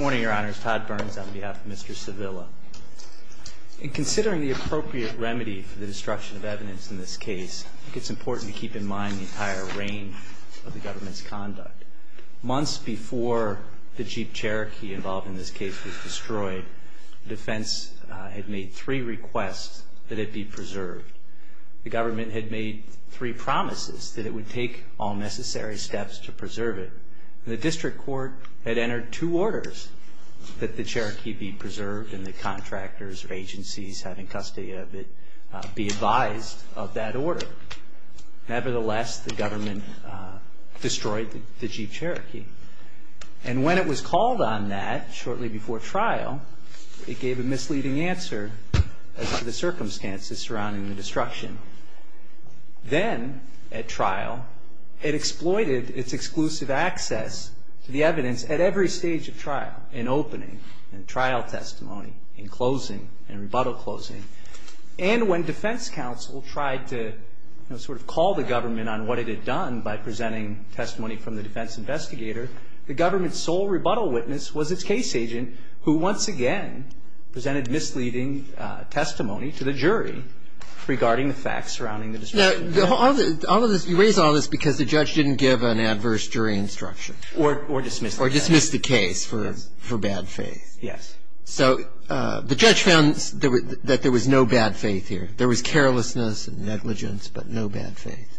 Good morning, your honors. Todd Burns on behalf of Mr. Sivilla. In considering the appropriate remedy for the destruction of evidence in this case, I think it's important to keep in mind the entire range of the government's conduct. Months before the Jeep Cherokee involved in this case was destroyed, the defense had made three requests that it be preserved. The government had made three promises that it would take all necessary steps to preserve it. The district court had entered two orders that the Cherokee be preserved and the contractors or agencies having custody of it be advised of that order. Nevertheless, the government destroyed the Jeep Cherokee. And when it was called on that shortly before trial, it gave a misleading answer as to the circumstances surrounding the destruction. Then at trial, it exploited its exclusive access to the evidence at every stage of trial, in opening, in trial testimony, in closing, in rebuttal closing. And when defense counsel tried to sort of call the government on what it had done by presenting testimony from the defense investigator, the government's sole rebuttal witness was its case agent, who once again presented misleading testimony to the jury regarding the facts surrounding the destruction. Now, all of this, you raise all this because the judge didn't give an adverse jury instruction. Or dismiss the case. Or dismiss the case for bad faith. Yes. So the judge found that there was no bad faith here. There was carelessness and negligence, but no bad faith.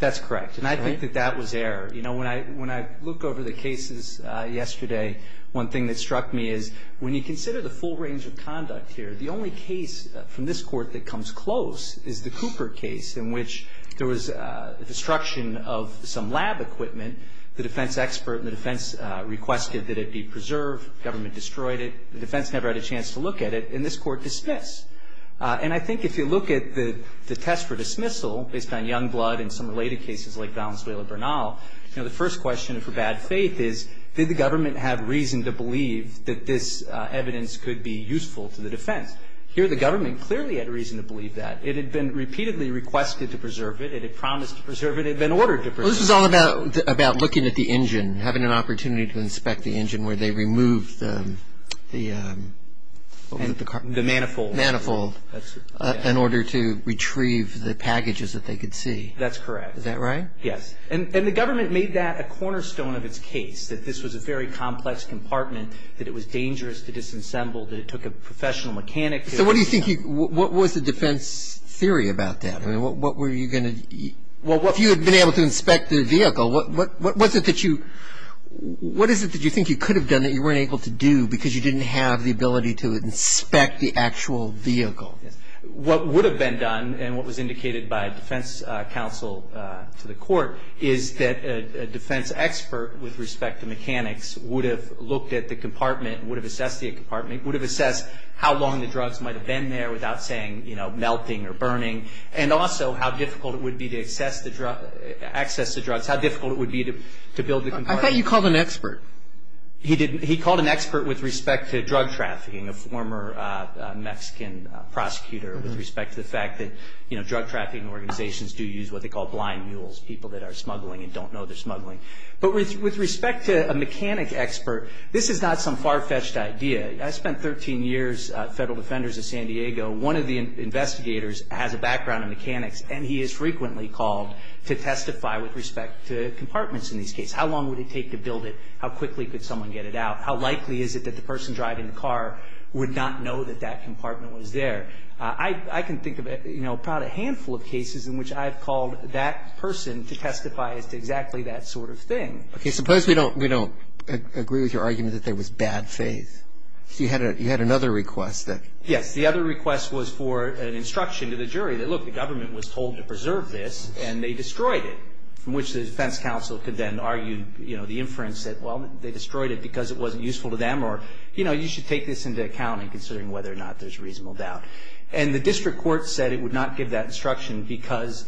That's correct. And I think that that was error. You know, when I look over the cases yesterday, one thing that struck me is when you consider the full range of conduct here, the only case from this Court that comes close is the Cooper case, in which there was destruction of some lab equipment. The defense expert and the defense requested that it be preserved. The government destroyed it. The defense never had a chance to look at it, and this Court dismissed. And I think if you look at the test for dismissal, based on Youngblood and some related cases like Valenzuela-Bernal, you know, the first question for bad faith is, did the government have reason to believe that this evidence could be useful to the defense? Here the government clearly had reason to believe that. It had been repeatedly requested to preserve it. It had promised to preserve it. It had been ordered to preserve it. Well, this was all about looking at the engine, having an opportunity to inspect the engine where they removed the, what was it, the car? The manifold. Manifold. That's it. In order to retrieve the packages that they could see. That's correct. Is that right? Yes. And the government made that a cornerstone of its case, that this was a very complex compartment, that it was dangerous to disassemble, that it took a professional mechanic to do it. So what do you think, what was the defense theory about that? I mean, what were you going to, if you had been able to inspect the vehicle, what was it that you, what is it that you think you could have done that you weren't able to do because you didn't have the ability to inspect the actual vehicle? What would have been done, and what was indicated by defense counsel to the court, is that a defense expert with respect to mechanics would have looked at the compartment, would have assessed the compartment, would have assessed how long the drugs might have been there without saying, you know, melting or burning, and also how difficult it would be to access the drugs, how difficult it would be to build the compartment. I thought you called an expert. He didn't. I called an expert with respect to drug trafficking, a former Mexican prosecutor, with respect to the fact that, you know, drug trafficking organizations do use what they call blind mules, people that are smuggling and don't know they're smuggling. But with respect to a mechanic expert, this is not some far-fetched idea. I spent 13 years, federal defenders of San Diego. One of the investigators has a background in mechanics, and he is frequently called to testify with respect to compartments in these cases. How long would it take to build it? How quickly could someone get it out? How likely is it that the person driving the car would not know that that compartment was there? I can think of, you know, about a handful of cases in which I have called that person to testify as to exactly that sort of thing. Okay. Suppose we don't agree with your argument that there was bad faith. You had another request that ---- Yes. The other request was for an instruction to the jury that, look, the government was told to preserve this, and they destroyed it, from which the defense counsel could then argue, you know, the inference that, well, they destroyed it because it wasn't useful to them, or, you know, you should take this into account in considering whether or not there's reasonable doubt. And the district court said it would not give that instruction because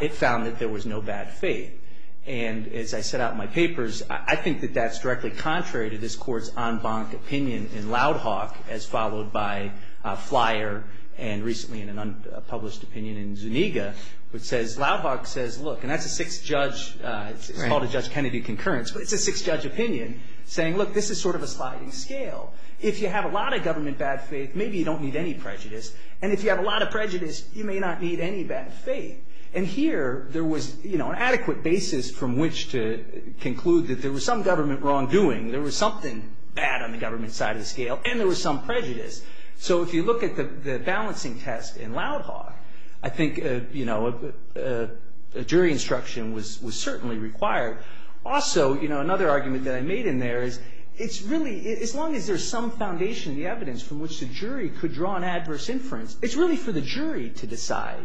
it found that there was no bad faith. And as I set out in my papers, I think that that's directly contrary to this court's en banc opinion in Loud Hawk, as followed by Flyer and recently in an unpublished opinion in Zuniga, which says, Loud Hawk says, look, and that's a sixth judge. It's called a Judge Kennedy concurrence. But it's a sixth judge opinion saying, look, this is sort of a sliding scale. If you have a lot of government bad faith, maybe you don't need any prejudice. And if you have a lot of prejudice, you may not need any bad faith. And here there was, you know, an adequate basis from which to conclude that there was some government wrongdoing, there was something bad on the government side of the scale, and there was some prejudice. So if you look at the balancing test in Loud Hawk, I think, you know, a jury instruction was certainly required. Also, you know, another argument that I made in there is it's really, as long as there's some foundation in the evidence from which the jury could draw an adverse inference, it's really for the jury to decide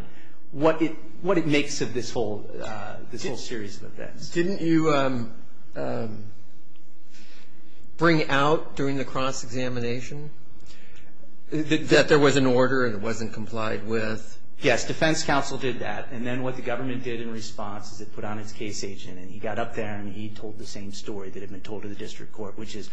what it makes of this whole series of events. Didn't you bring out during the cross-examination that there was an order and it wasn't complied with? Yes, defense counsel did that. And then what the government did in response is it put on its case agent and he got up there and he told the same story that had been told to the district court, which is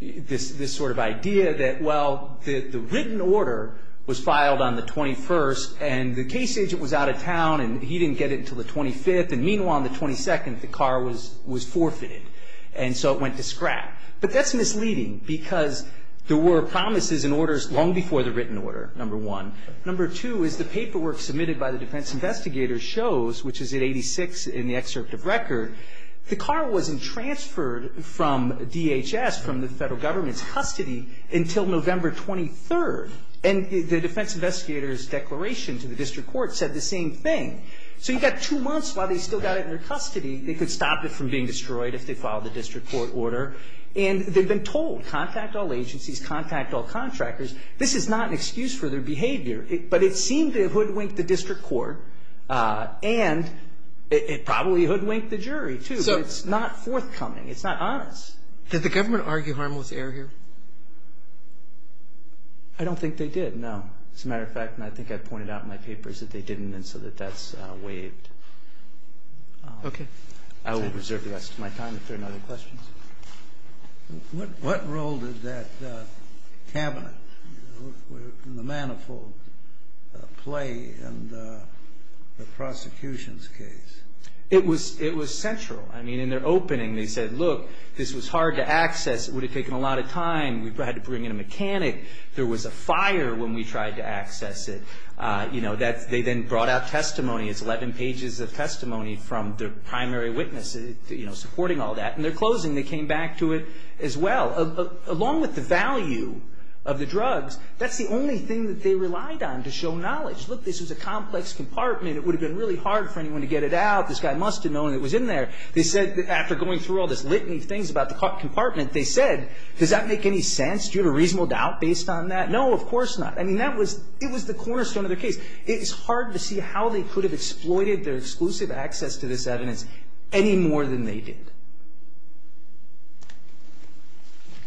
this sort of idea that, well, the written order was filed on the 21st and the case agent was out of town and he didn't get it until the 25th, and meanwhile on the 22nd the car was forfeited. And so it went to scrap. But that's misleading because there were promises and orders long before the written order, number one. Number two is the paperwork submitted by the defense investigators shows, which is at 86 in the excerpt of record, the car wasn't transferred from DHS, from the federal government's custody, until November 23rd. And the defense investigators' declaration to the district court said the same thing. So you've got two months while they still got it under custody. They could stop it from being destroyed if they followed the district court order. And they've been told, contact all agencies, contact all contractors. This is not an excuse for their behavior. But it seemed to hoodwink the district court, and it probably hoodwinked the jury, too. But it's not forthcoming. It's not honest. Did the government argue harmless error here? I don't think they did, no. As a matter of fact, and I think I pointed out in my papers that they didn't, and so that that's waived. Okay. I will reserve the rest of my time if there are no other questions. What role did that cabinet, the manifold play in the prosecution's case? It was central. I mean, in their opening they said, look, this was hard to access. It would have taken a lot of time. We had to bring in a mechanic. There was a fire when we tried to access it. You know, they then brought out testimony. It's 11 pages of testimony from the primary witness, you know, supporting all that. And their closing, they came back to it as well. Along with the value of the drugs, that's the only thing that they relied on to show knowledge. Look, this was a complex compartment. It would have been really hard for anyone to get it out. This guy must have known it was in there. They said, after going through all this litany of things about the compartment, they said, does that make any sense? Do you have a reasonable doubt based on that? No, of course not. I mean, that was the cornerstone of their case. It's hard to see how they could have exploited their exclusive access to this evidence any more than they did.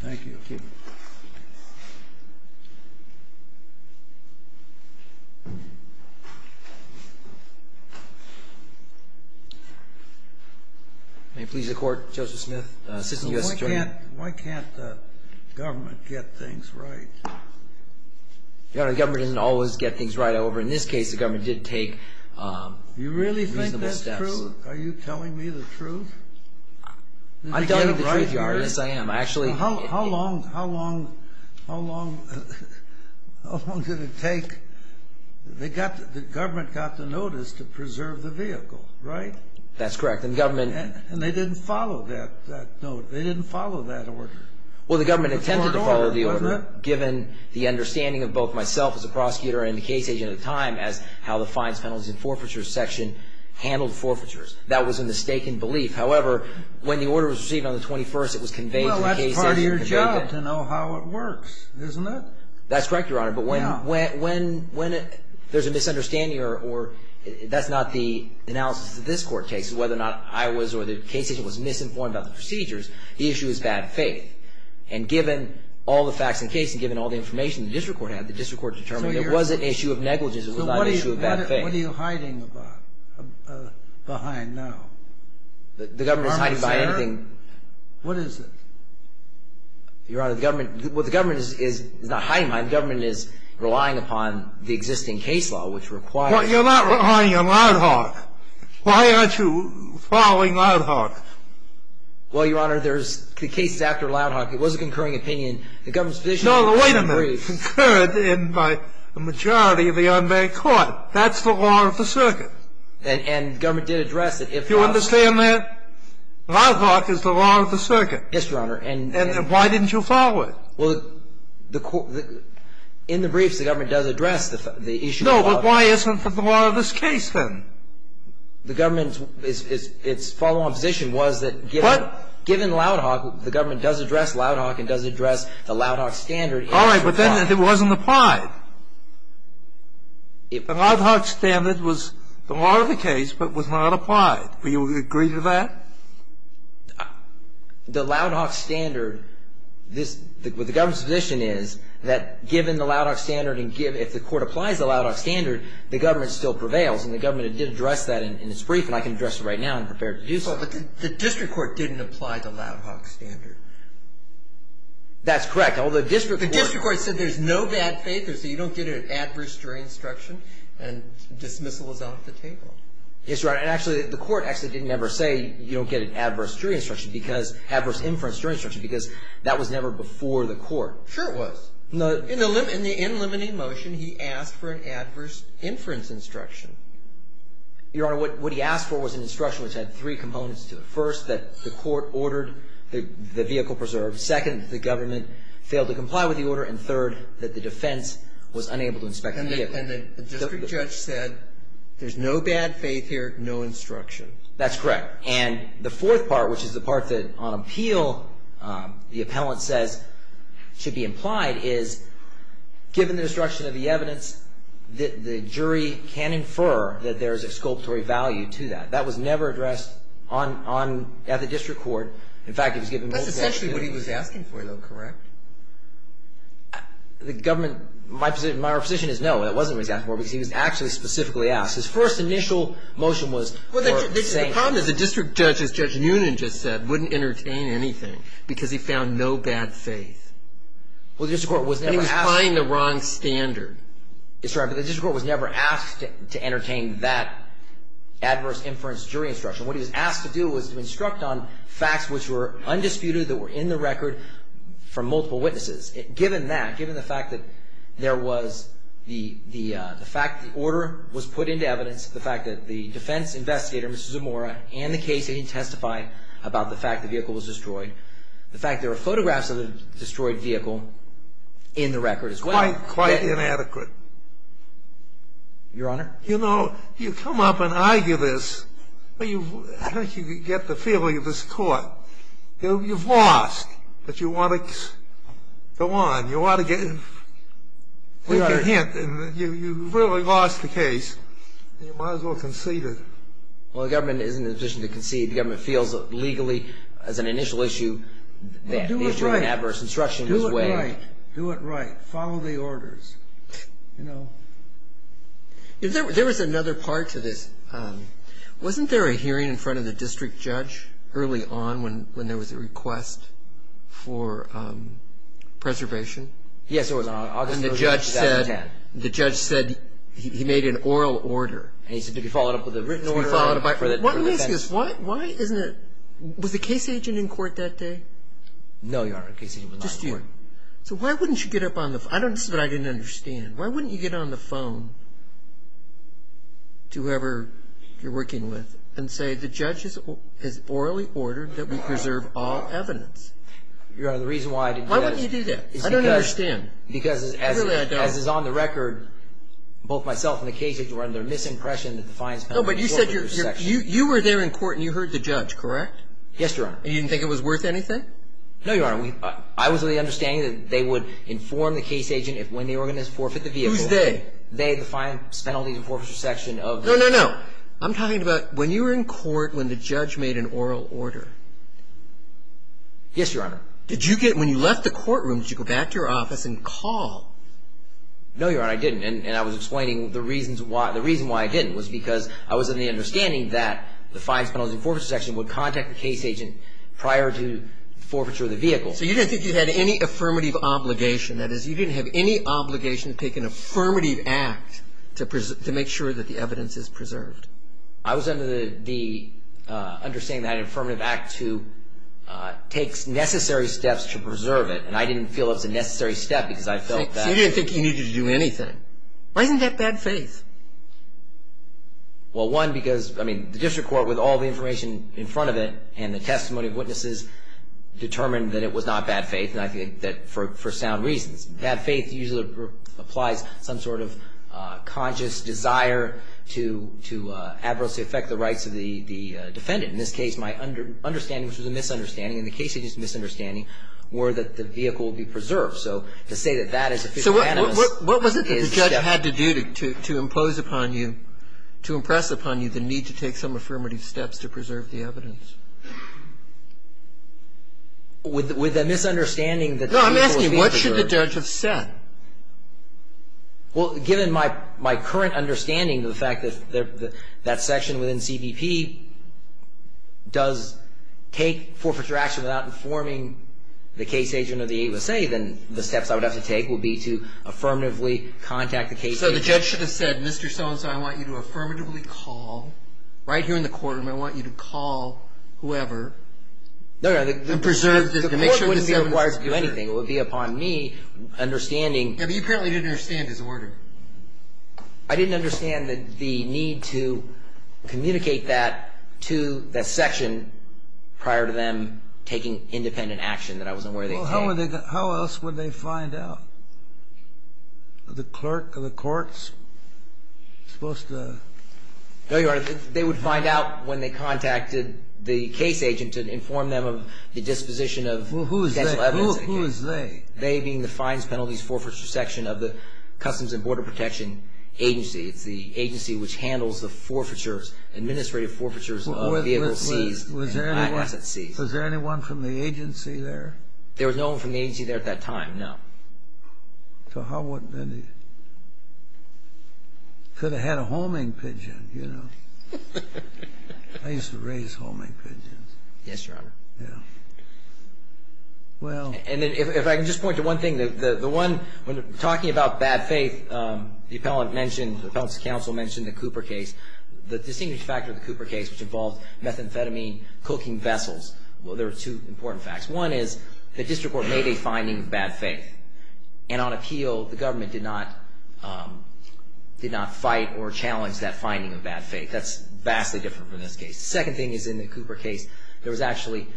Thank you. Thank you. May it please the Court, Joseph Smith, Assistant U.S. Attorney. Why can't the government get things right? Your Honor, the government didn't always get things right. However, in this case, the government did take reasonable steps. You really think that's true? Are you telling me the truth? I'm telling you the truth, Your Honor. Yes, I am. How long did it take? The government got the notice to preserve the vehicle, right? That's correct. And they didn't follow that order. Well, the government attempted to follow the order given the understanding of both myself as a prosecutor and the case agent at the time as how the fines, penalties, and forfeitures section handled forfeitures. That was a mistaken belief. However, when the order was received on the 21st, it was conveyed to the case agent. Well, that's part of your job to know how it works, isn't it? That's correct, Your Honor. But when there's a misunderstanding or that's not the analysis that this Court takes, whether or not I was or the case agent was misinformed about the procedures, the issue is bad faith. And given all the facts in the case and given all the information the district court had, the district court determined there was an issue of negligence. It was not an issue of bad faith. So what are you hiding behind now? The government is hiding behind anything. Your Honor, is there? What is it? Your Honor, the government is not hiding behind. The government is relying upon the existing case law, which requires... Following Loudhock. Well, Your Honor, there's the case after Loudhock. It was a concurring opinion. The government's position... No, wait a minute. Concurred in by a majority of the unmarried court. That's the law of the circuit. And the government did address it. Do you understand that? Loudhock is the law of the circuit. Yes, Your Honor. And why didn't you follow it? Well, in the briefs the government does address the issue... No, but why isn't it the law of this case then? The government's follow-on position was that given... What? Given Loudhock, the government does address Loudhock and does address the Loudhock standard. All right, but then it wasn't applied. The Loudhock standard was the law of the case but was not applied. Do you agree to that? The Loudhock standard, the government's position is that given the Loudhock standard and if the court applies the Loudhock standard, the government still prevails. And the government did address that in its brief and I can address it right now. I'm prepared to do so. But the district court didn't apply the Loudhock standard. That's correct. Although the district court... The district court said there's no bad faith. They said you don't get an adverse jury instruction and dismissal is off the table. Yes, Your Honor. And actually the court actually didn't ever say you don't get an adverse jury instruction because... adverse inference jury instruction because that was never before the court. Sure it was. In the in limiting motion, he asked for an adverse inference instruction. Your Honor, what he asked for was an instruction which had three components to it. First, that the court ordered the vehicle preserved. Second, the government failed to comply with the order. And third, that the defense was unable to inspect the vehicle. And the district judge said there's no bad faith here, no instruction. That's correct. And the fourth part, which is the part that on appeal the appellant says should be implied, is given the destruction of the evidence, the jury can infer that there is exculpatory value to that. That was never addressed at the district court. In fact, it was given multiple... That's essentially what he was asking for, though, correct? The government... My position is no, that wasn't what he was asking for because he was actually specifically asked. His first initial motion was... Well, the problem is the district judge, as Judge Noonan just said, wouldn't entertain anything because he found no bad faith. Well, the district court was never asked... And he was applying the wrong standard. That's right, but the district court was never asked to entertain that adverse inference jury instruction. What he was asked to do was to instruct on facts which were undisputed, that were in the record from multiple witnesses. Given that, given the fact that there was the fact the order was put into evidence, the fact that the defense investigator, Mr. Zamora, and the case he testified about the fact the vehicle was destroyed, the fact there are photographs of the destroyed vehicle in the record as well... Quite, quite inadequate. Your Honor? You know, you come up and argue this... I don't think you can get the feeling of this court. You've lost, but you want to go on. You want to give a hint. You've really lost the case. You might as well concede it. Well, the government isn't in a position to concede. The government feels that legally, as an initial issue, that they've... Well, do it right... Do it right. Do it right. Follow the orders, you know. There was another part to this. Wasn't there a hearing in front of the district judge early on when there was a request for preservation? Yes, there was. And the judge said he made an oral order. And he said to be followed up with a written order. To be followed up by... Let me ask you this. Why isn't it... Was the case agent in court that day? No, Your Honor. The case agent was not in court. Just you. So why wouldn't you get up on the... This is what I didn't understand. Why wouldn't you get on the phone to whoever you're working with and say the judge has orally ordered that we preserve all evidence? Your Honor, the reason why I didn't... Why wouldn't you do that? I don't understand. Because... Really, I don't... As is on the record, both myself and the case agent were under misimpression that the fines... No, but you said you were there in court and you heard the judge, correct? Yes, Your Honor. And you didn't think it was worth anything? No, Your Honor. I was of the understanding that they would inform the case agent when they were going to forfeit the vehicle. Who's they? They, the Fines, Penalties and Forfeiture section of the... No, no, no. I'm talking about when you were in court when the judge made an oral order. Yes, Your Honor. Did you get... When you left the courtroom, did you go back to your office and call? No, Your Honor, I didn't. And I was explaining the reasons why... The reason why I didn't was because I was of the understanding that the Fines, Penalties and Forfeiture section would contact the case agent prior to... Forfeiture of the vehicle. So you didn't think you had any affirmative obligation. That is, you didn't have any obligation to take an affirmative act to make sure that the evidence is preserved. I was under the understanding that an affirmative act takes necessary steps to preserve it. And I didn't feel it was a necessary step because I felt that... So you didn't think you needed to do anything. Why isn't that bad faith? Well, one, because, I mean, the district court, with all the information in front of it and the testimony of witnesses, determined that it was not bad faith. And I think that for sound reasons. Bad faith usually applies some sort of conscious desire to adversely affect the rights of the defendant. In this case, my understanding, which was a misunderstanding, and the case agent's misunderstanding were that the vehicle would be preserved. Well, given my current understanding of the fact that that section within CBP does take forfeiture action without informing the case agent or the AUSA, then the steps I would have to take would be to affirmatively contact the case agent. So the judge should have said, Mr. Fines, I'm going to impose upon you, to impress upon you, the need to take some affirmative steps to preserve the evidence. Mr. So-and-so, I want you to affirmatively call, right here in the courtroom, I want you to call whoever. No, no, the court wouldn't be required to do anything. It would be upon me understanding... Yeah, but you apparently didn't understand his order. I didn't understand the need to communicate that to that section prior to them taking independent action that I wasn't aware they had. Well, how else would they find out? The clerk of the courts supposed to... No, Your Honor, they would find out when they contacted the case agent to inform them of the disposition of... Who is they? They being the Fines, Penalties, Forfeiture section of the Customs and Border Protection Agency. It's the agency which handles the administrative forfeitures of vehicles seized and assets seized. Was there anyone from the agency there? There was no one from the agency there at that time, no. So how would they... Could have had a homing pigeon, you know. I used to raise homing pigeons. Yes, Your Honor. Yeah. Well... And if I can just point to one thing... The one... When talking about bad faith, the appellant mentioned... The appellant's counsel mentioned the Cooper case. The distinguished factor of the Cooper case, which involved methamphetamine cooking vessels. Well, there were two important facts. One is the district court made a finding of bad faith. And on appeal, the government did not fight or challenge that finding of bad faith. That's vastly different from this case. The second thing is in the Cooper case, there was actually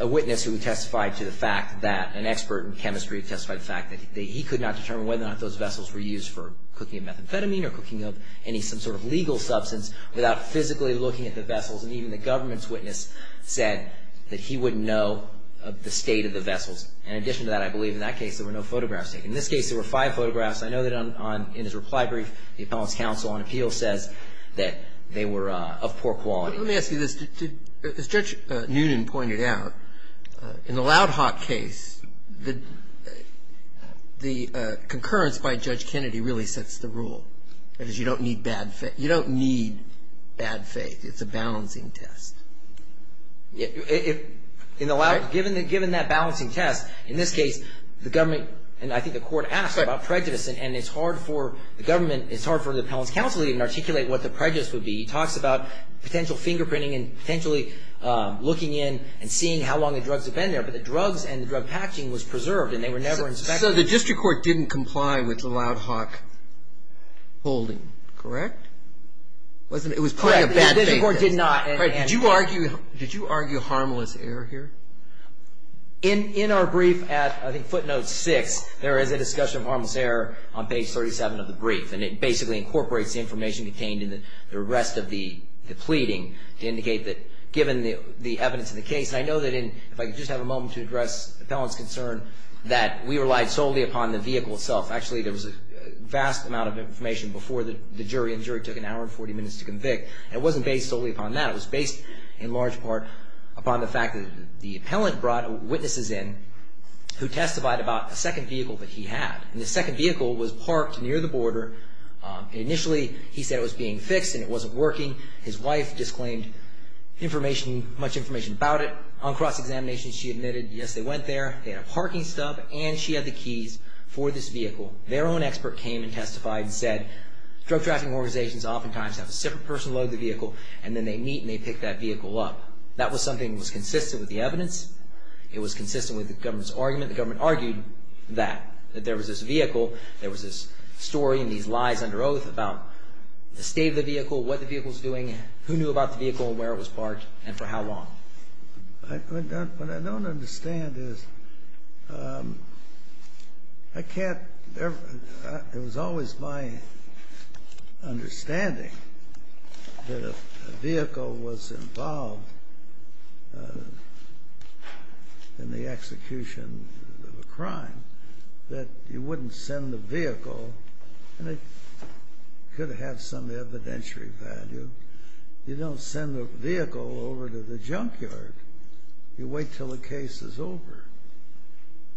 a witness who testified to the fact that... An expert in chemistry testified to the fact that he could not determine whether or not those vessels were used for cooking of methamphetamine or cooking of any sort of legal substance without physically looking at the vessels. And even the government's witness said that he wouldn't know the state of the vessels. In addition to that, I believe in that case there were no photographs taken. In this case, there were five photographs. I know that on... In his reply brief, the appellant's counsel on appeal says that they were of poor quality. Let me ask you this. As Judge Noonan pointed out, in the Loud Hawk case, the concurrence by Judge Kennedy really sets the rule. That is, you don't need bad faith. You don't need bad faith. It's a balancing test. In the Loud Hawk, given that balancing test, in this case, the government and I think the court asked about prejudice. And it's hard for the government. It's hard for the appellant's counsel to even articulate what the prejudice would be. He talks about potential fingerprinting and potentially looking in and seeing how long the drugs had been there. But the drugs and the drug patching was preserved, and they were never inspected. So the district court didn't comply with the Loud Hawk holding, correct? It was playing a bad faith test. Correct. The district court did not. Did you argue harmless error here? In our brief at, I think, footnote 6, there is a discussion of harmless error on page 37 of the brief. And it basically incorporates the information contained in the rest of the pleading to indicate that, given the evidence in the case, and I know that in, if I could just have a moment to address the appellant's concern, that we relied solely upon the vehicle itself. Actually, there was a vast amount of information before the jury, and the jury took an hour and 40 minutes to convict. And it wasn't based solely upon that. It was based, in large part, upon the fact that the appellant brought witnesses in who testified about a second vehicle that he had. And the second vehicle was parked near the border. Initially, he said it was being fixed and it wasn't working. His wife disclaimed information, much information about it. On cross-examination, she admitted, yes, they went there, they had a parking stub, and she had the keys for this vehicle. Their own expert came and testified and said, drug trafficking organizations oftentimes have a separate person load the vehicle, and then they meet and they pick that vehicle up. That was something that was consistent with the evidence. It was consistent with the government's argument. The government argued that, that there was this vehicle, there was this story and these lies under oath about the state of the vehicle, what the vehicle was doing, who knew about the vehicle and where it was parked, and for how long. What I don't understand is, I can't, it was always my understanding that if a vehicle was involved in the execution of a crime, that you wouldn't send the vehicle, and it could have some evidentiary value, but you don't send the vehicle over to the junkyard. You wait until the case is over,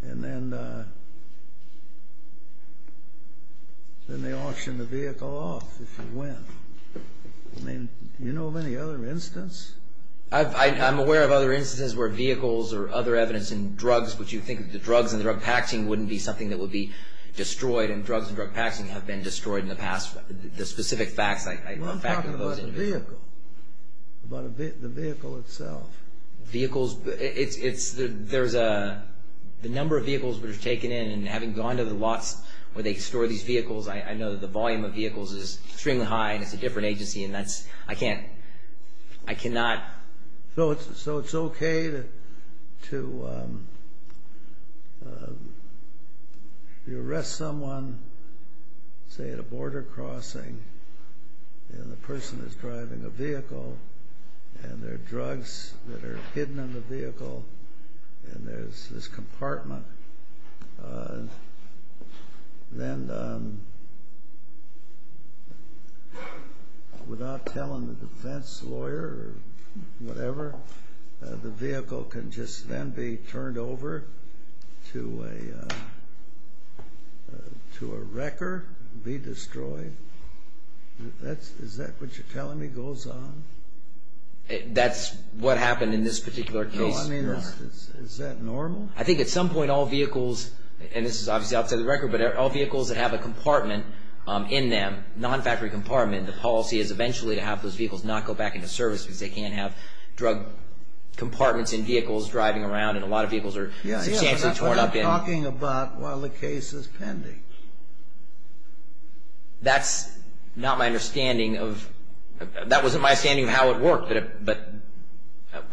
and then they auction the vehicle off if you win. I mean, do you know of any other instance? I'm aware of other instances where vehicles or other evidence in drugs, but you think that the drugs and the drug packing wouldn't be something that would be destroyed, and drugs and drug packing have been destroyed in the past. Well, I'm talking about the vehicle. About the vehicle itself. Vehicles, it's, there's a, the number of vehicles that are taken in, and having gone to the lots where they store these vehicles, I know that the volume of vehicles is extremely high, and it's a different agency, and that's, I can't, I cannot. So it's okay to, you arrest someone, say, at a border crossing, and the person is driving a vehicle, and there are drugs that are hidden in the vehicle, and there's this compartment, then without telling the defense lawyer or whatever, the vehicle can just then be turned over to a wrecker, be destroyed. Is that what you're telling me goes on? That's what happened in this particular case? Well, I mean, is that normal? I think at some point all vehicles, and this is obviously outside the record, but all vehicles that have a compartment in them, non-factory compartment, the policy is eventually to have those vehicles not go back into service because they can't have drug compartments in vehicles driving around, and a lot of vehicles are substantially torn up in. Yeah, you're talking about while the case is pending. That's not my understanding of, that wasn't my understanding of how it worked, but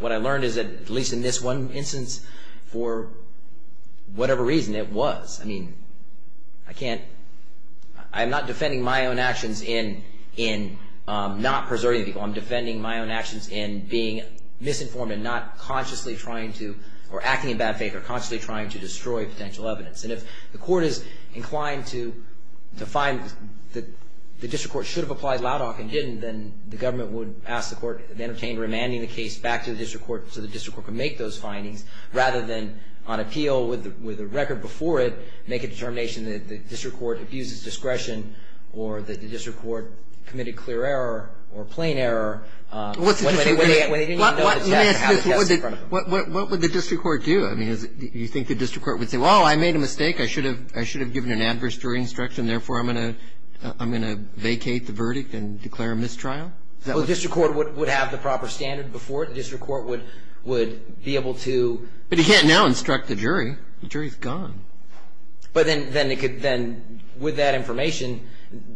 what I learned is that, at least in this one instance, for whatever reason, it was. I mean, I can't, I'm not defending my own actions in not preserving people. I'm defending my own actions in being misinformed and not consciously trying to, or acting in bad faith or consciously trying to destroy potential evidence. And if the court is inclined to find that the district court should have applied Laudoc and didn't, then the government would ask the court, they would entertain remanding the case back to the district court so the district court could make those findings, rather than on appeal with a record before it, make a determination that the district court abuses discretion or that the district court committed clear error or plain error. Let me ask you this. What would the district court do? I mean, do you think the district court would say, well, I made a mistake. I should have given an adverse jury instruction, therefore I'm going to vacate the verdict and declare a mistrial? Well, the district court would have the proper standard before it. The district court would be able to. But he can't now instruct the jury. The jury is gone. But then with that information,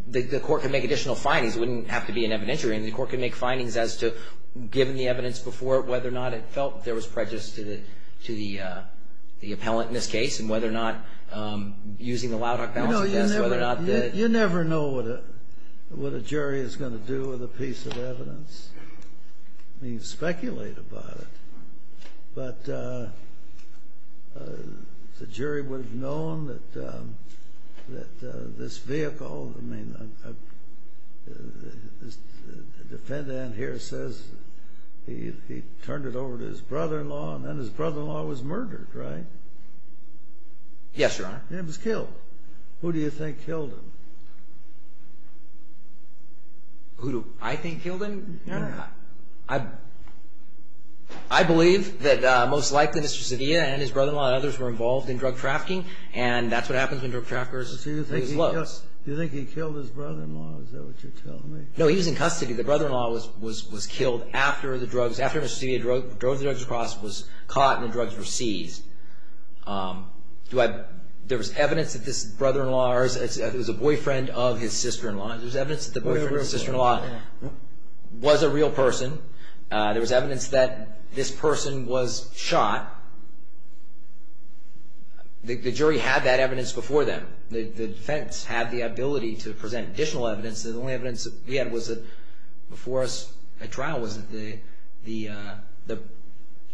the court can make additional findings. It wouldn't have to be an evidentiary. And the court can make findings as to, given the evidence before it, whether or not it felt there was prejudice to the appellant in this case and whether or not using the Loudhock Bouncer test. You never know what a jury is going to do with a piece of evidence. I mean, speculate about it. But the jury would have known that this vehicle, I mean, the defendant here says he turned it over to his brother-in-law and then his brother-in-law was murdered, right? Yes, Your Honor. And he was killed. Who do you think killed him? Who do I think killed him? I believe that most likely Mr. Cedilla and his brother-in-law and others were involved in drug trafficking, and that's what happens when drug traffickers lose. Do you think he killed his brother-in-law? Is that what you're telling me? No, he was in custody. The brother-in-law was killed after Mr. Cedilla drove the drugs across, was caught, and the drugs were seized. There was evidence that this brother-in-law was a boyfriend of his sister-in-law. There was evidence that the boyfriend of his sister-in-law was a real person. There was evidence that this person was shot. The jury had that evidence before them. The defense had the ability to present additional evidence, and the only evidence we had was that before us at trial was that the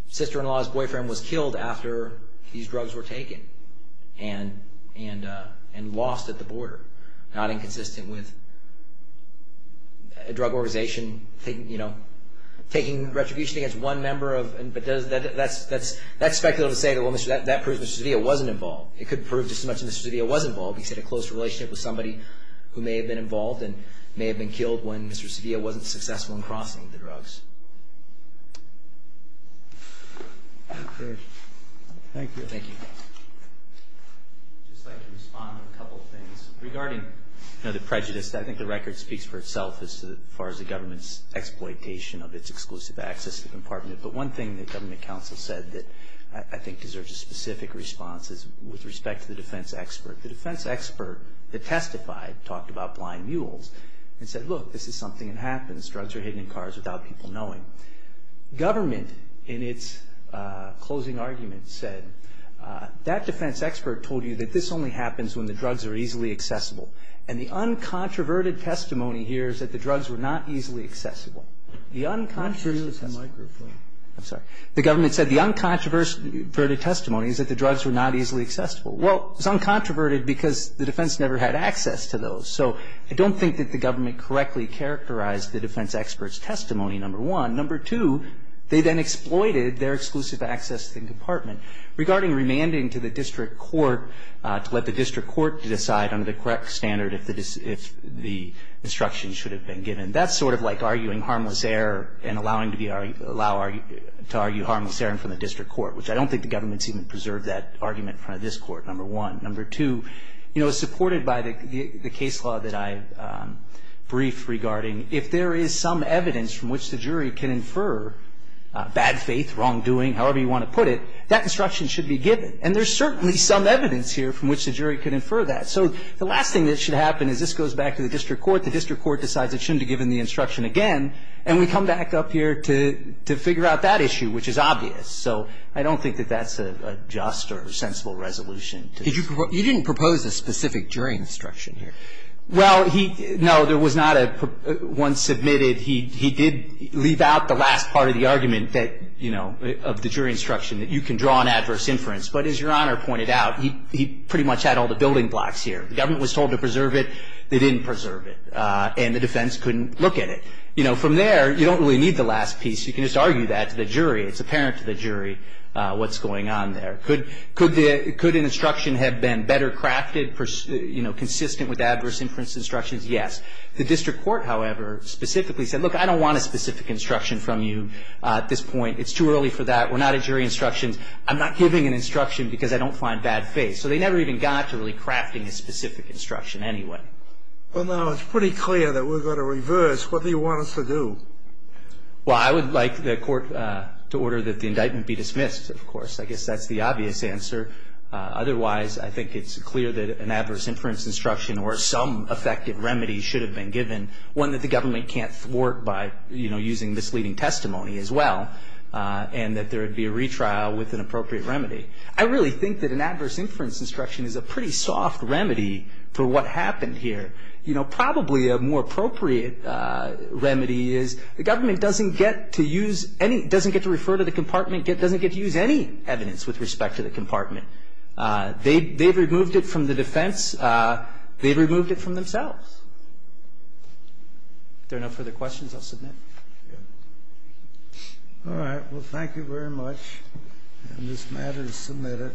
sister-in-law's boyfriend was killed after these drugs were taken and lost at the border, not inconsistent with a drug organization taking retribution against one member. That's speculative to say that that proves Mr. Cedilla wasn't involved. It couldn't prove just as much as Mr. Cedilla was involved because he had a close relationship with somebody who may have been involved and may have been killed when Mr. Cedilla wasn't successful in crossing the drugs. Okay. Thank you. Thank you. I'd just like to respond to a couple things. Regarding the prejudice, I think the record speaks for itself as far as the government's exploitation of its exclusive access to the compartment, but one thing that government counsel said that I think deserves a specific response is with respect to the defense expert. The defense expert that testified talked about blind mules and said, look, this is something that happens. Drugs are hidden in cars without people knowing. Government, in its closing argument, said, that defense expert told you that this only happens when the drugs are easily accessible, and the uncontroverted testimony here is that the drugs were not easily accessible. The uncontroverted testimony. I'm sorry. The government said the uncontroverted testimony is that the drugs were not easily accessible. Well, it's uncontroverted because the defense never had access to those, so I don't think that the government correctly characterized the defense expert's testimony, number one. Number two, they then exploited their exclusive access to the compartment. Regarding remanding to the district court to let the district court decide under the correct standard if the instruction should have been given, that's sort of like arguing harmless error and allowing to argue harmless error from the district court, which I don't think the government's even preserved that argument in front of this court, number one. Number two, you know, supported by the case law that I briefed regarding if there is some evidence from which the jury can infer bad faith, wrongdoing, however you want to put it, that instruction should be given. And there's certainly some evidence here from which the jury could infer that. So the last thing that should happen is this goes back to the district court. The district court decides it shouldn't have given the instruction again, and we come back up here to figure out that issue, which is obvious. So I don't think that that's a just or sensible resolution to this. You didn't propose a specific jury instruction here. Well, no, there was not a one submitted. He did leave out the last part of the argument that, you know, of the jury instruction, that you can draw an adverse inference. But as Your Honor pointed out, he pretty much had all the building blocks here. The government was told to preserve it. They didn't preserve it. And the defense couldn't look at it. You know, from there, you don't really need the last piece. You can just argue that to the jury. It's apparent to the jury what's going on there. Could an instruction have been better crafted, you know, consistent with adverse inference instructions? Yes. The district court, however, specifically said, look, I don't want a specific instruction from you at this point. It's too early for that. We're not at jury instructions. I'm not giving an instruction because I don't find bad faith. So they never even got to really crafting a specific instruction anyway. Well, now, it's pretty clear that we're going to reverse. What do you want us to do? Well, I would like the court to order that the indictment be dismissed, of course. I guess that's the obvious answer. Otherwise, I think it's clear that an adverse inference instruction or some effective remedy should have been given, one that the government can't thwart by, you know, using misleading testimony as well, and that there would be a retrial with an appropriate remedy. I really think that an adverse inference instruction is a pretty soft remedy for what happened here. You know, probably a more appropriate remedy is the government doesn't get to use any, doesn't get to refer to the compartment, doesn't get to use any evidence with respect to the compartment. They've removed it from the defense. They've removed it from themselves. If there are no further questions, I'll submit. All right. Well, thank you very much. And this matter is submitted.